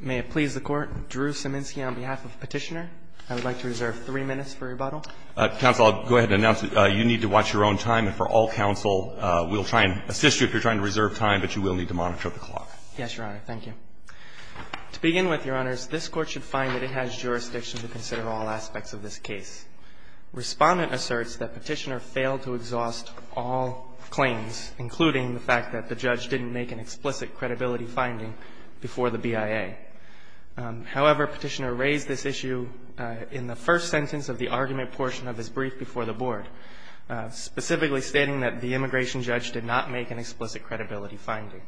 May it please the Court, Drew Sieminski on behalf of Petitioner. I would like to reserve three minutes for rebuttal. Counsel, I'll go ahead and announce that you need to watch your own time, and for all counsel, we'll try and assist you if you're trying to reserve time, but you will need to monitor the clock. Yes, Your Honor. Thank you. To begin with, Your Honors, this Court should find that it has jurisdiction to consider all aspects of this case. Respondent asserts that Petitioner failed to exhaust all claims, including the fact that the judge didn't make an explicit credibility finding before the BIA. However, Petitioner raised this issue in the first sentence of the argument portion of his brief before the Board, specifically stating that the immigration judge did not make an explicit credibility finding.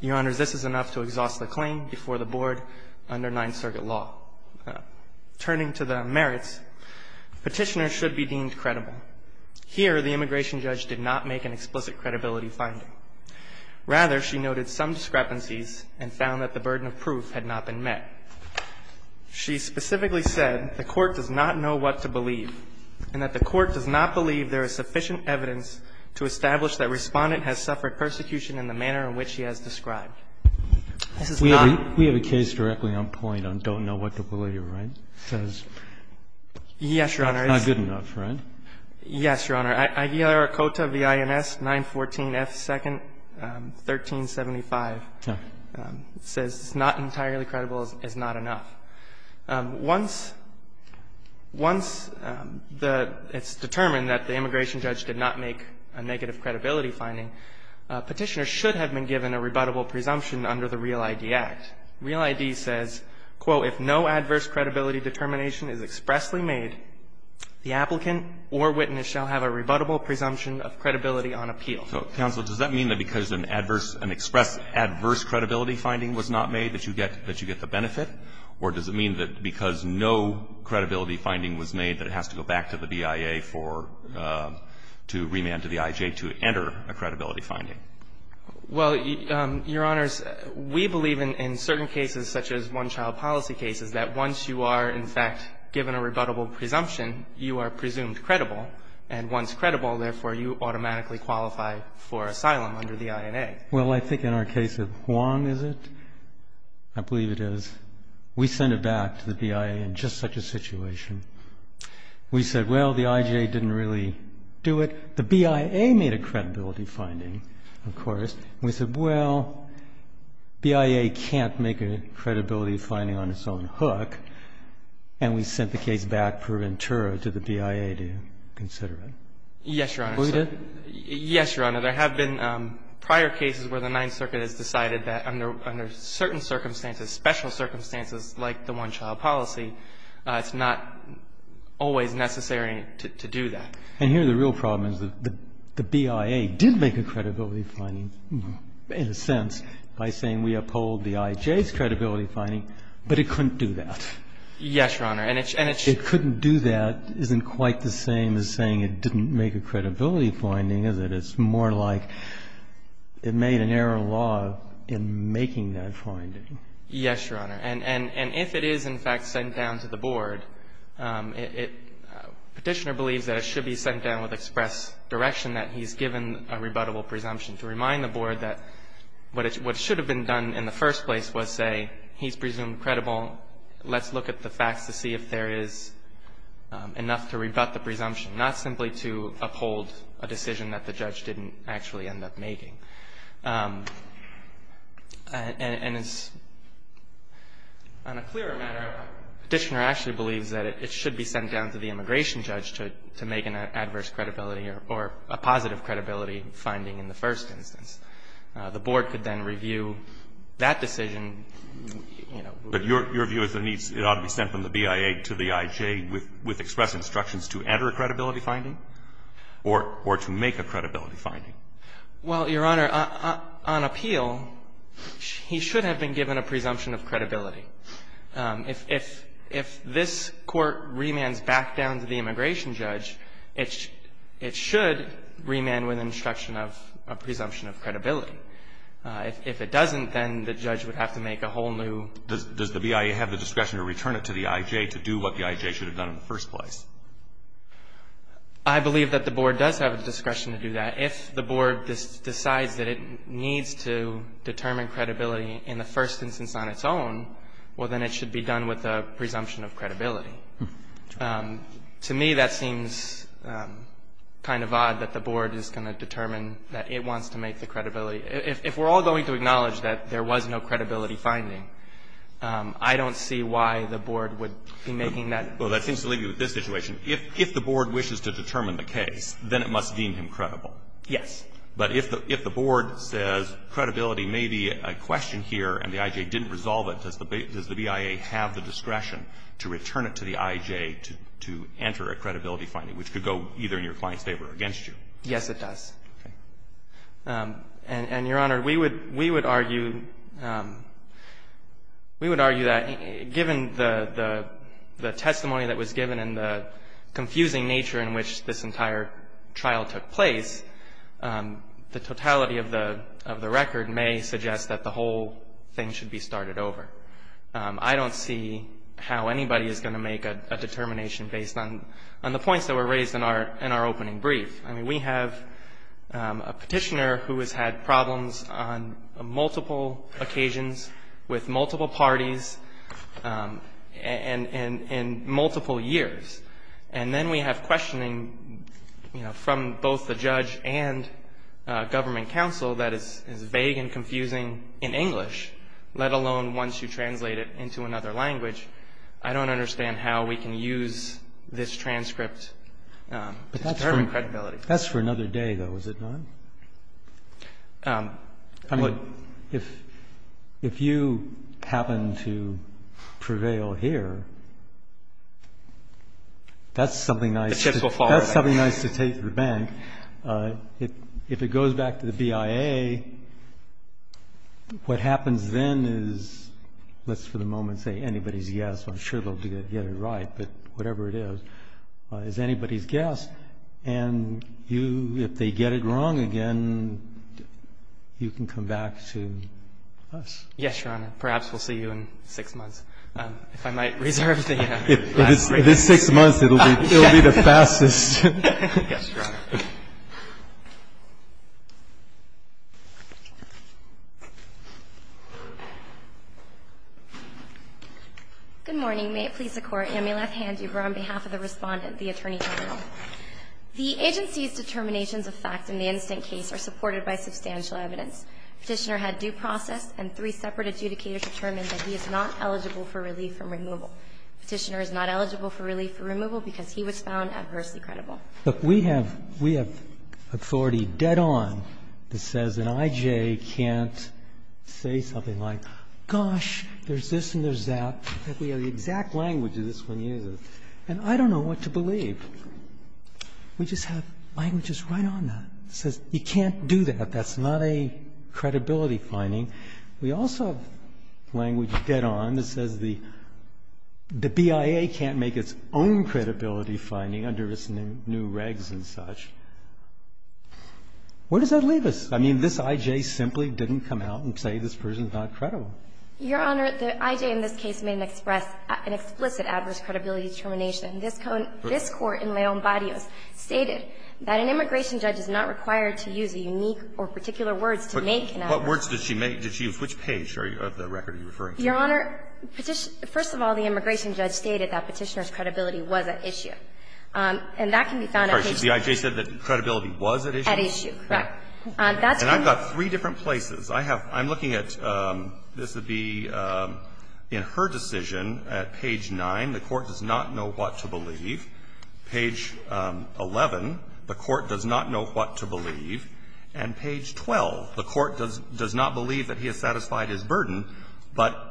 Your Honors, this is enough to exhaust the claim before the Board under Ninth Circuit law. Turning to the merits, Petitioner should be deemed credible. Here, the immigration judge did not make an explicit credibility finding. Rather, she noted some discrepancies and found that the burden of proof had not been met. She specifically said the Court does not know what to believe and that the Court does not believe there is sufficient evidence to establish that Respondent has suffered persecution in the manner in which he has described. We have a case directly on point on don't know what to believe, right? Because that's not good enough, right? Yes, Your Honor. IARCOTA V. INS 914 F. 2nd, 1375 says it's not entirely credible is not enough. Once the ‑‑ it's determined that the immigration judge did not make a negative credibility finding, Petitioner should have been given a rebuttable presumption under the REAL ID Act. REAL ID says, quote, if no adverse credibility determination is expressly made, the applicant or witness shall have a rebuttable presumption of credibility on appeal. So, counsel, does that mean that because an adverse, an express adverse credibility finding was not made that you get ‑‑ that you get the benefit, or does it mean that because no credibility finding was made that it has to go back to the BIA for ‑‑ to remand to the IJ to enter a credibility finding? Well, Your Honors, we believe in certain cases such as one-child policy cases that once you are, in fact, given a rebuttable presumption, you are presumed credible, and once credible, therefore, you automatically qualify for asylum under the INA. Well, I think in our case of Huang, is it? I believe it is. We sent it back to the BIA in just such a situation. We said, well, the IJ didn't really do it. The BIA made a credibility finding, of course. We said, well, BIA can't make a credibility finding on its own hook, and we sent the case back for Ventura to the BIA to consider it. Yes, Your Honor. We did? Yes, Your Honor. There have been prior cases where the Ninth Circuit has decided that under certain circumstances, special circumstances like the one-child policy, it's not always necessary to do that. And here the real problem is the BIA did make a credibility finding, in a sense, by saying we uphold the IJ's credibility finding, but it couldn't do that. Yes, Your Honor. And it's ‑‑ Well, it's not that it's not a credibility finding, is it? It's more like it made an error of law in making that finding. Yes, Your Honor. And if it is, in fact, sent down to the Board, Petitioner believes that it should be sent down with express direction that he's given a rebuttable presumption to remind the Board that what should have been done in the first place was say he's presumed credible, let's look at the facts to see if there is enough to rebut the presumption, not simply to uphold a decision that the judge didn't actually end up making. And it's, on a clearer matter, Petitioner actually believes that it should be sent down to the immigration judge to make an adverse credibility or a positive credibility finding in the first instance. The Board could then review that decision. But your view is it needs ‑‑ it ought to be sent from the BIA to the IJ with express instructions to enter a credibility finding or to make a credibility finding? Well, Your Honor, on appeal, he should have been given a presumption of credibility. If this Court remands back down to the immigration judge, it should remand with instructions of a presumption of credibility. If it doesn't, then the judge would have to make a whole new ‑‑ Does the BIA have the discretion to return it to the IJ to do what the IJ should have done in the first place? I believe that the Board does have the discretion to do that. If the Board decides that it needs to determine credibility in the first instance on its own, well, then it should be done with a presumption of credibility. To me, that seems kind of odd that the Board is going to determine that it wants to make the credibility. If we're all going to acknowledge that there was no credibility finding, I don't see why the Board would be making that decision. Well, that seems to leave you with this situation. If the Board wishes to determine the case, then it must deem him credible. Yes. But if the Board says credibility may be a question here and the IJ didn't resolve it, does the BIA have the discretion to return it to the IJ to enter a credibility finding, which could go either in your client's favor or against you? Yes, it does. Okay. And, Your Honor, we would argue ‑‑ we would argue that given the testimony that was given and the confusing nature in which this entire trial took place, the totality of the record may suggest that the whole thing should be started over. I don't see how anybody is going to make a determination based on the points that were raised in our opening brief. I mean, we have a Petitioner who has had problems on multiple occasions with multiple parties and in multiple years. And then we have questioning, you know, from both the judge and government counsel that is vague and confusing in English, let alone once you translate it into another language. I don't understand how we can use this transcript to determine credibility. But that's for another day, though, is it not? I mean, if you happen to prevail here, that's something nice to take to the bank. If it goes back to the BIA, what happens then is, let's for the moment say anybody's guess, I'm sure they'll get it right, but whatever it is, is anybody's guess. And you, if they get it wrong again, you can come back to us. Yes, Your Honor. Perhaps we'll see you in six months. If I might reserve the last phrase. If it's six months, it will be the fastest. Yes, Your Honor. Good morning. May it please the Court, and may I at hand you, on behalf of the Respondent, the Attorney General. The agency's determinations of fact in the instant case are supported by substantial evidence. Petitioner had due process and three separate adjudicators determined that he is not eligible for relief from removal. Petitioner is not eligible for relief from removal because he was found adversely credible. Look, we have authority dead on that says an IJA can't say something like, gosh, there's this and there's that. In fact, we have the exact language that this one uses. And I don't know what to believe. We just have languages right on that. It says you can't do that. That's not a credibility finding. We also have language dead on that says the BIA can't make its own credibility finding under its new regs and such. Where does that leave us? I mean, this IJA simply didn't come out and say this person's not credible. Your Honor, the IJA in this case made an explicit adverse credibility determination. This Court in Leon Barrios stated that an immigration judge is not required to use a unique or particular words to make an adverse. What words did she make? Which page of the record are you referring to? Your Honor, first of all, the immigration judge stated that Petitioner's credibility was at issue. And that can be found at page 9. The IJA said that credibility was at issue? At issue, correct. And I've got three different places. I'm looking at this would be in her decision at page 9, the Court does not know what to believe. Page 11, the Court does not know what to believe. And page 12, the Court does not believe that he has satisfied his burden, but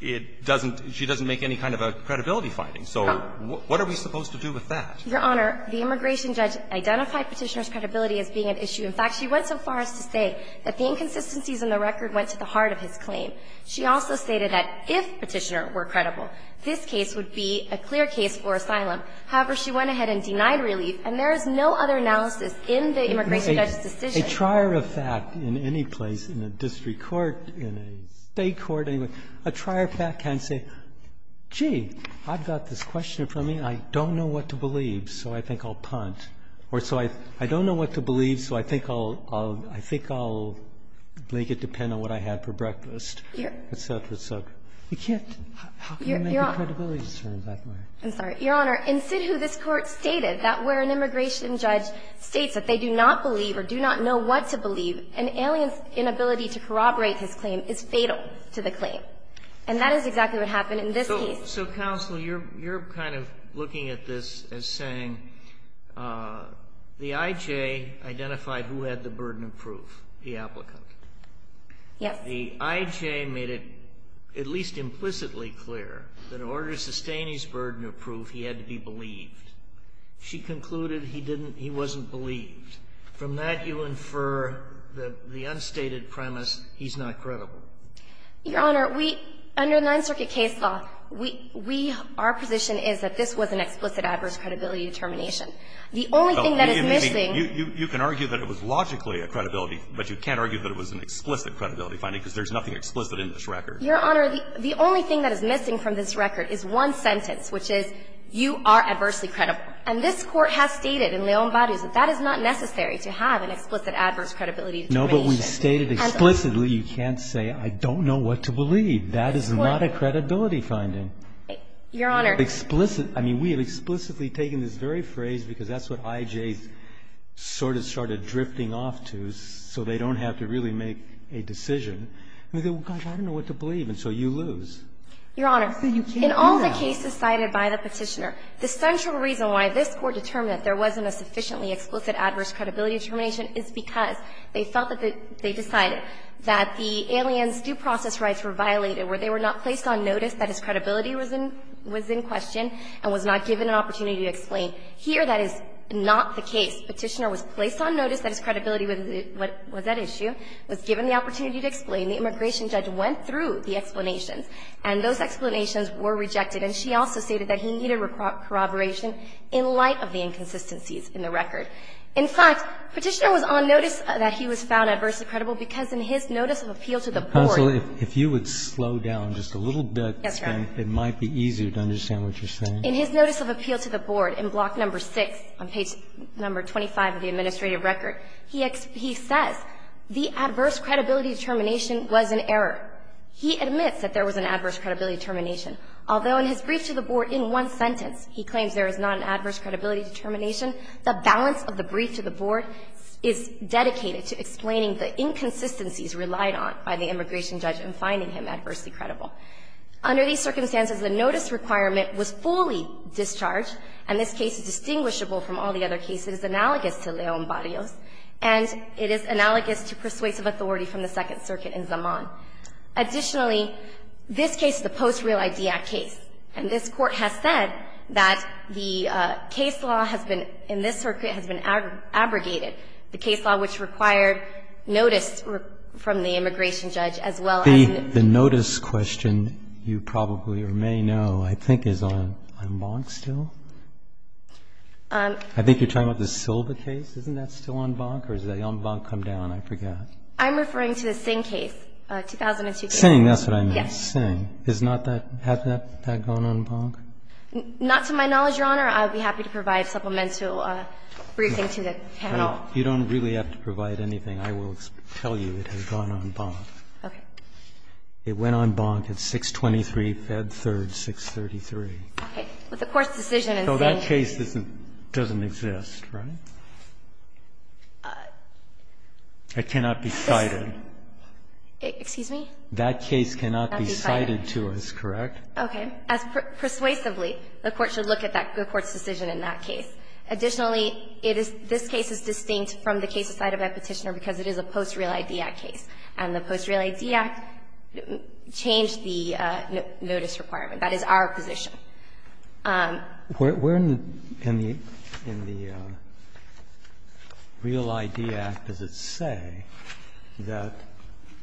it doesn't she doesn't make any kind of a credibility finding. So what are we supposed to do with that? Your Honor, the immigration judge identified Petitioner's credibility as being at issue. In fact, she went so far as to say that the inconsistencies in the record went to the heart of his claim. She also stated that if Petitioner were credible, this case would be a clear case for asylum. However, she went ahead and denied relief, and there is no other analysis in the immigration judge's decision. A trier of fact in any place, in a district court, in a state court, a trier of fact can say, gee, I've got this question for me, and I don't know what to believe, so I think I'll punt. Or so I don't know what to believe, so I think I'll make it depend on what I had for breakfast, et cetera, et cetera. You can't make a credibility concern that way. I'm sorry. Your Honor, in Sidhu, this Court stated that where an immigration judge states that they do not believe or do not know what to believe, an alien's inability to corroborate his claim is fatal to the claim. And that is exactly what happened in this case. So, counsel, you're kind of looking at this as saying the IJ identified who had the burden of proof, the applicant. Yes. The IJ made it at least implicitly clear that in order to sustain his burden of proof, he had to be believed. She concluded he didn't he wasn't believed. From that, you infer that the unstated premise, he's not credible. Your Honor, we, under the Ninth Circuit case law, we, our position is that this was an explicit adverse credibility determination. The only thing that is missing. You can argue that it was logically a credibility, but you can't argue that it was an explicit credibility finding, because there's nothing explicit in this record. Your Honor, the only thing that is missing from this record is one sentence, which is, you are adversely credible. And this Court has stated in Leon Baru's that that is not necessary to have an explicit adverse credibility determination. No, but we've stated explicitly you can't say, I don't know what to believe. That is not a credibility finding. Your Honor. Explicit. I mean, we have explicitly taken this very phrase, because that's what IJ's sort of started drifting off to, so they don't have to really make a decision. I mean, gosh, I don't know what to believe. And so you lose. Your Honor, in all the cases cited by the petitioner, the central reason why this Court determined that there wasn't a sufficiently explicit adverse credibility determination is because they felt that they decided that the alien's due process rights were violated, where they were not placed on notice that his credibility was in question and was not given an opportunity to explain. Here, that is not the case. Petitioner was placed on notice that his credibility was at issue, was given the opportunity to explain. The immigration judge went through the explanations, and those explanations were rejected. And she also stated that he needed corroboration in light of the inconsistencies in the record. In fact, Petitioner was on notice that he was found adversely credible because in his notice of appeal to the board. If you would slow down just a little bit, it might be easier to understand what you're saying. In his notice of appeal to the board, in Block No. 6 on page No. 25 of the administrative record, he says the adverse credibility determination was an error. He admits that there was an adverse credibility determination, although in his brief to the board in one sentence he claims there is not an adverse credibility determination, the balance of the brief to the board is dedicated to explaining the inconsistencies relied on by the immigration judge in finding him adversely credible. Under these circumstances, the notice requirement was fully discharged, and this case is distinguishable from all the other cases. It is analogous to Leon Barrios, and it is analogous to persuasive authority from the Second Circuit in Zaman. Additionally, this case is a Post-Real ID Act case. And this Court has said that the case law has been, in this circuit, has been abrogated, the case law which required notice from the immigration judge as well as the notice question you probably or may know I think is on Bonk still? I think you're talking about the Silva case. Isn't that still on Bonk, or has that on Bonk come down? I forget. I'm referring to the Singh case, 2002 case. Singh, that's what I meant. Yes. The Singh, is not that, has that gone on Bonk? Not to my knowledge, Your Honor. I would be happy to provide supplemental briefing to the panel. You don't really have to provide anything. I will tell you it has gone on Bonk. Okay. It went on Bonk at 623 Fed 3rd, 633. Okay. But the Court's decision in Singh. So that case doesn't exist, right? It cannot be cited. Excuse me? That case cannot be cited to us, correct? Okay. Persuasively, the Court should look at the Court's decision in that case. Additionally, it is this case is distinct from the case cited by Petitioner because it is a post-Real ID Act case. And the post-Real ID Act changed the notice requirement. That is our position. We're in the Real ID Act, does it say, that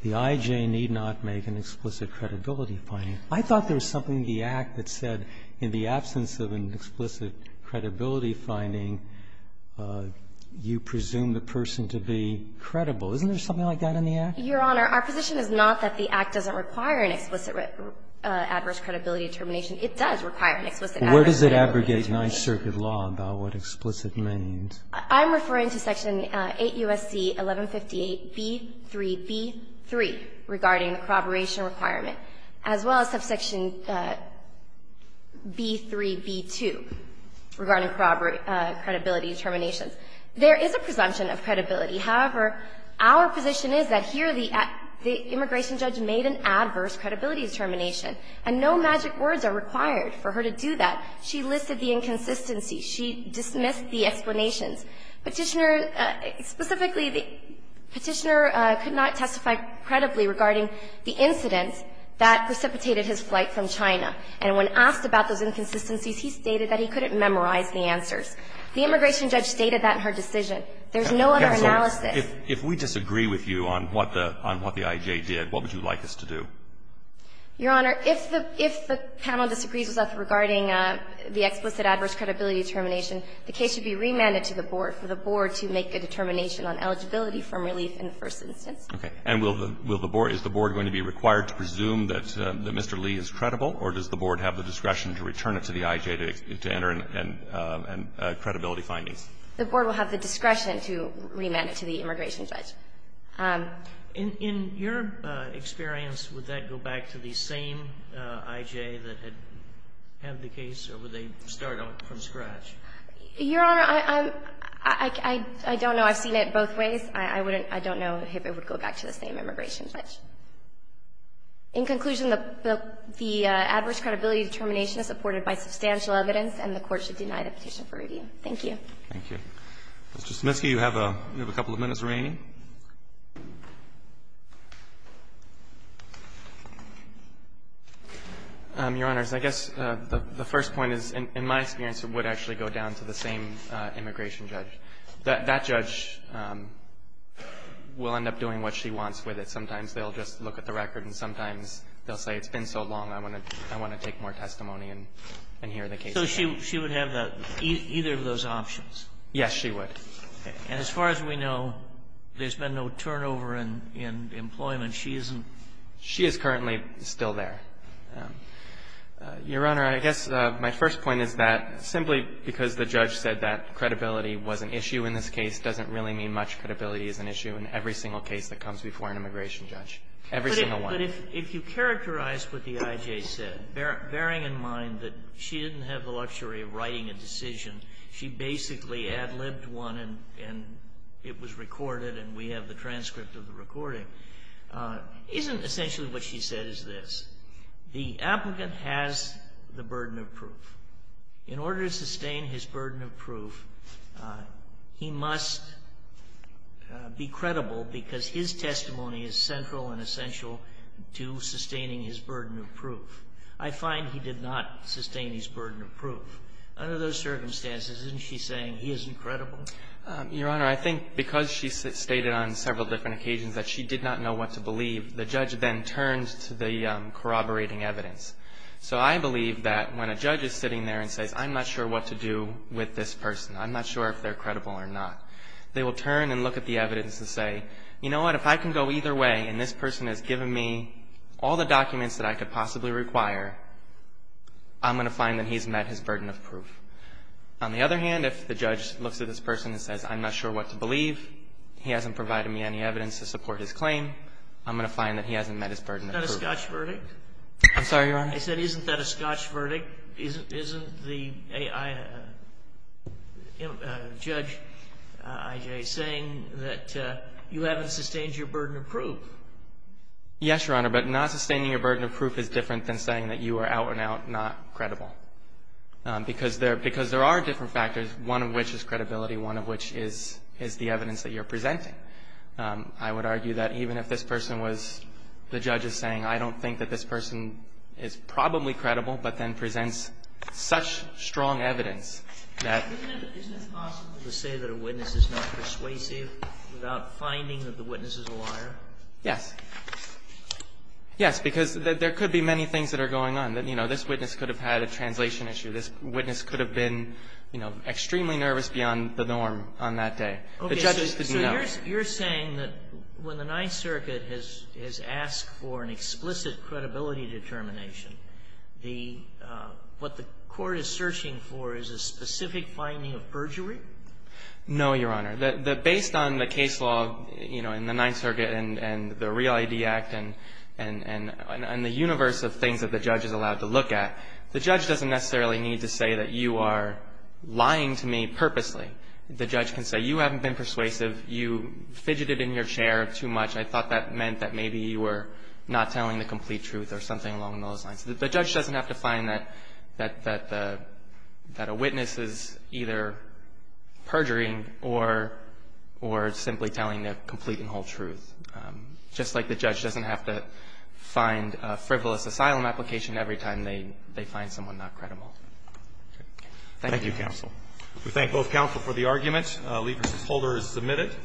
the I.J. need not be cited, but the I.J. need not be used. It does not make an explicit credibility finding. I thought there was something in the Act that said in the absence of an explicit credibility finding, you presume the person to be credible. Isn't there something like that in the Act? Your Honor, our position is not that the Act doesn't require an explicit adverse credibility determination. It does require an explicit adverse credibility determination. Where does it abrogate Ninth Circuit law about what explicit means? I'm referring to Section 8 U.S.C. 1158 B.3.B.3 regarding the corroboration requirement, as well as subsection B.3.B.2 regarding credibility determinations. There is a presumption of credibility. However, our position is that here the immigration judge made an adverse credibility determination. And no magic words are required for her to do that. She listed the inconsistency. She dismissed the explanations. Petitioner – specifically, the Petitioner could not testify credibly regarding the incidents that precipitated his flight from China. And when asked about those inconsistencies, he stated that he couldn't memorize the answers. The immigration judge stated that in her decision. There's no other analysis. If we disagree with you on what the I.J. did, what would you like us to do? Your Honor, if the – if the panel disagrees with us regarding the explicit adverse credibility determination, the case should be remanded to the board for the board to make a determination on eligibility from relief in the first instance. Okay. And will the board – is the board going to be required to presume that Mr. Lee is credible, or does the board have the discretion to return it to the I.J. to enter in credibility findings? The board will have the discretion to remand it to the immigration judge. In your experience, would that go back to the same I.J. that had had the case, or do they start from scratch? Your Honor, I'm – I don't know. I've seen it both ways. I wouldn't – I don't know if it would go back to the same immigration judge. In conclusion, the adverse credibility determination is supported by substantial evidence, and the Court should deny the petition for review. Thank you. Thank you. Mr. Smitsky, you have a couple of minutes remaining. Your Honors, I guess the first point is, in my experience, it would actually go down to the same immigration judge. That judge will end up doing what she wants with it. Sometimes they'll just look at the record, and sometimes they'll say, it's been so long, I want to – I want to take more testimony and hear the case again. So she would have either of those options? Yes, she would. And as far as we know, there's been no turnover in employment. She isn't – She is currently still there. Your Honor, I guess my first point is that simply because the judge said that credibility was an issue in this case doesn't really mean much credibility is an issue in every single case that comes before an immigration judge, every single one. But if you characterize what the I.J. said, bearing in mind that she didn't have the and it was recorded and we have the transcript of the recording, isn't essentially what she said is this. The applicant has the burden of proof. In order to sustain his burden of proof, he must be credible because his testimony is central and essential to sustaining his burden of proof. I find he did not sustain his burden of proof. Under those circumstances, isn't she saying he isn't credible? Your Honor, I think because she stated on several different occasions that she did not know what to believe, the judge then turned to the corroborating evidence. So I believe that when a judge is sitting there and says, I'm not sure what to do with this person, I'm not sure if they're credible or not, they will turn and look at the evidence and say, you know what, if I can go either way and this person has given me all the documents that I could possibly require, I'm going to find that he's met his burden of proof. On the other hand, if the judge looks at this person and says, I'm not sure what to believe, he hasn't provided me any evidence to support his claim, I'm going to find that he hasn't met his burden of proof. Isn't that a Scotch verdict? I'm sorry, Your Honor? I said, isn't that a Scotch verdict? Isn't the judge, I.J., saying that you haven't sustained your burden of proof? Yes, Your Honor, but not sustaining your burden of proof is different than saying that you are out and out not credible, because there are different factors, one of which is credibility, one of which is the evidence that you're presenting. I would argue that even if this person was, the judge is saying, I don't think that this person is probably credible, but then presents such strong evidence that Isn't it possible to say that a witness is not persuasive without finding that the witness is a liar? Yes. Yes, because there could be many things that are going on. You know, this witness could have had a translation issue. This witness could have been, you know, extremely nervous beyond the norm on that day. The judges didn't know. So you're saying that when the Ninth Circuit has asked for an explicit credibility determination, the what the court is searching for is a specific finding of perjury? No, Your Honor. Based on the case law, you know, in the Ninth Circuit and the Real ID Act and the universe of things that the judge is allowed to look at, the judge doesn't necessarily need to say that you are lying to me purposely. The judge can say, you haven't been persuasive. You fidgeted in your chair too much. I thought that meant that maybe you were not telling the complete truth or something along those lines. The judge doesn't have to find that a witness is either perjuring or simply telling the complete and whole truth. Just like the judge doesn't have to find a frivolous asylum application every time they find someone not credible. Thank you, counsel. We thank both counsel for the argument. Liefers and Holder is submitted.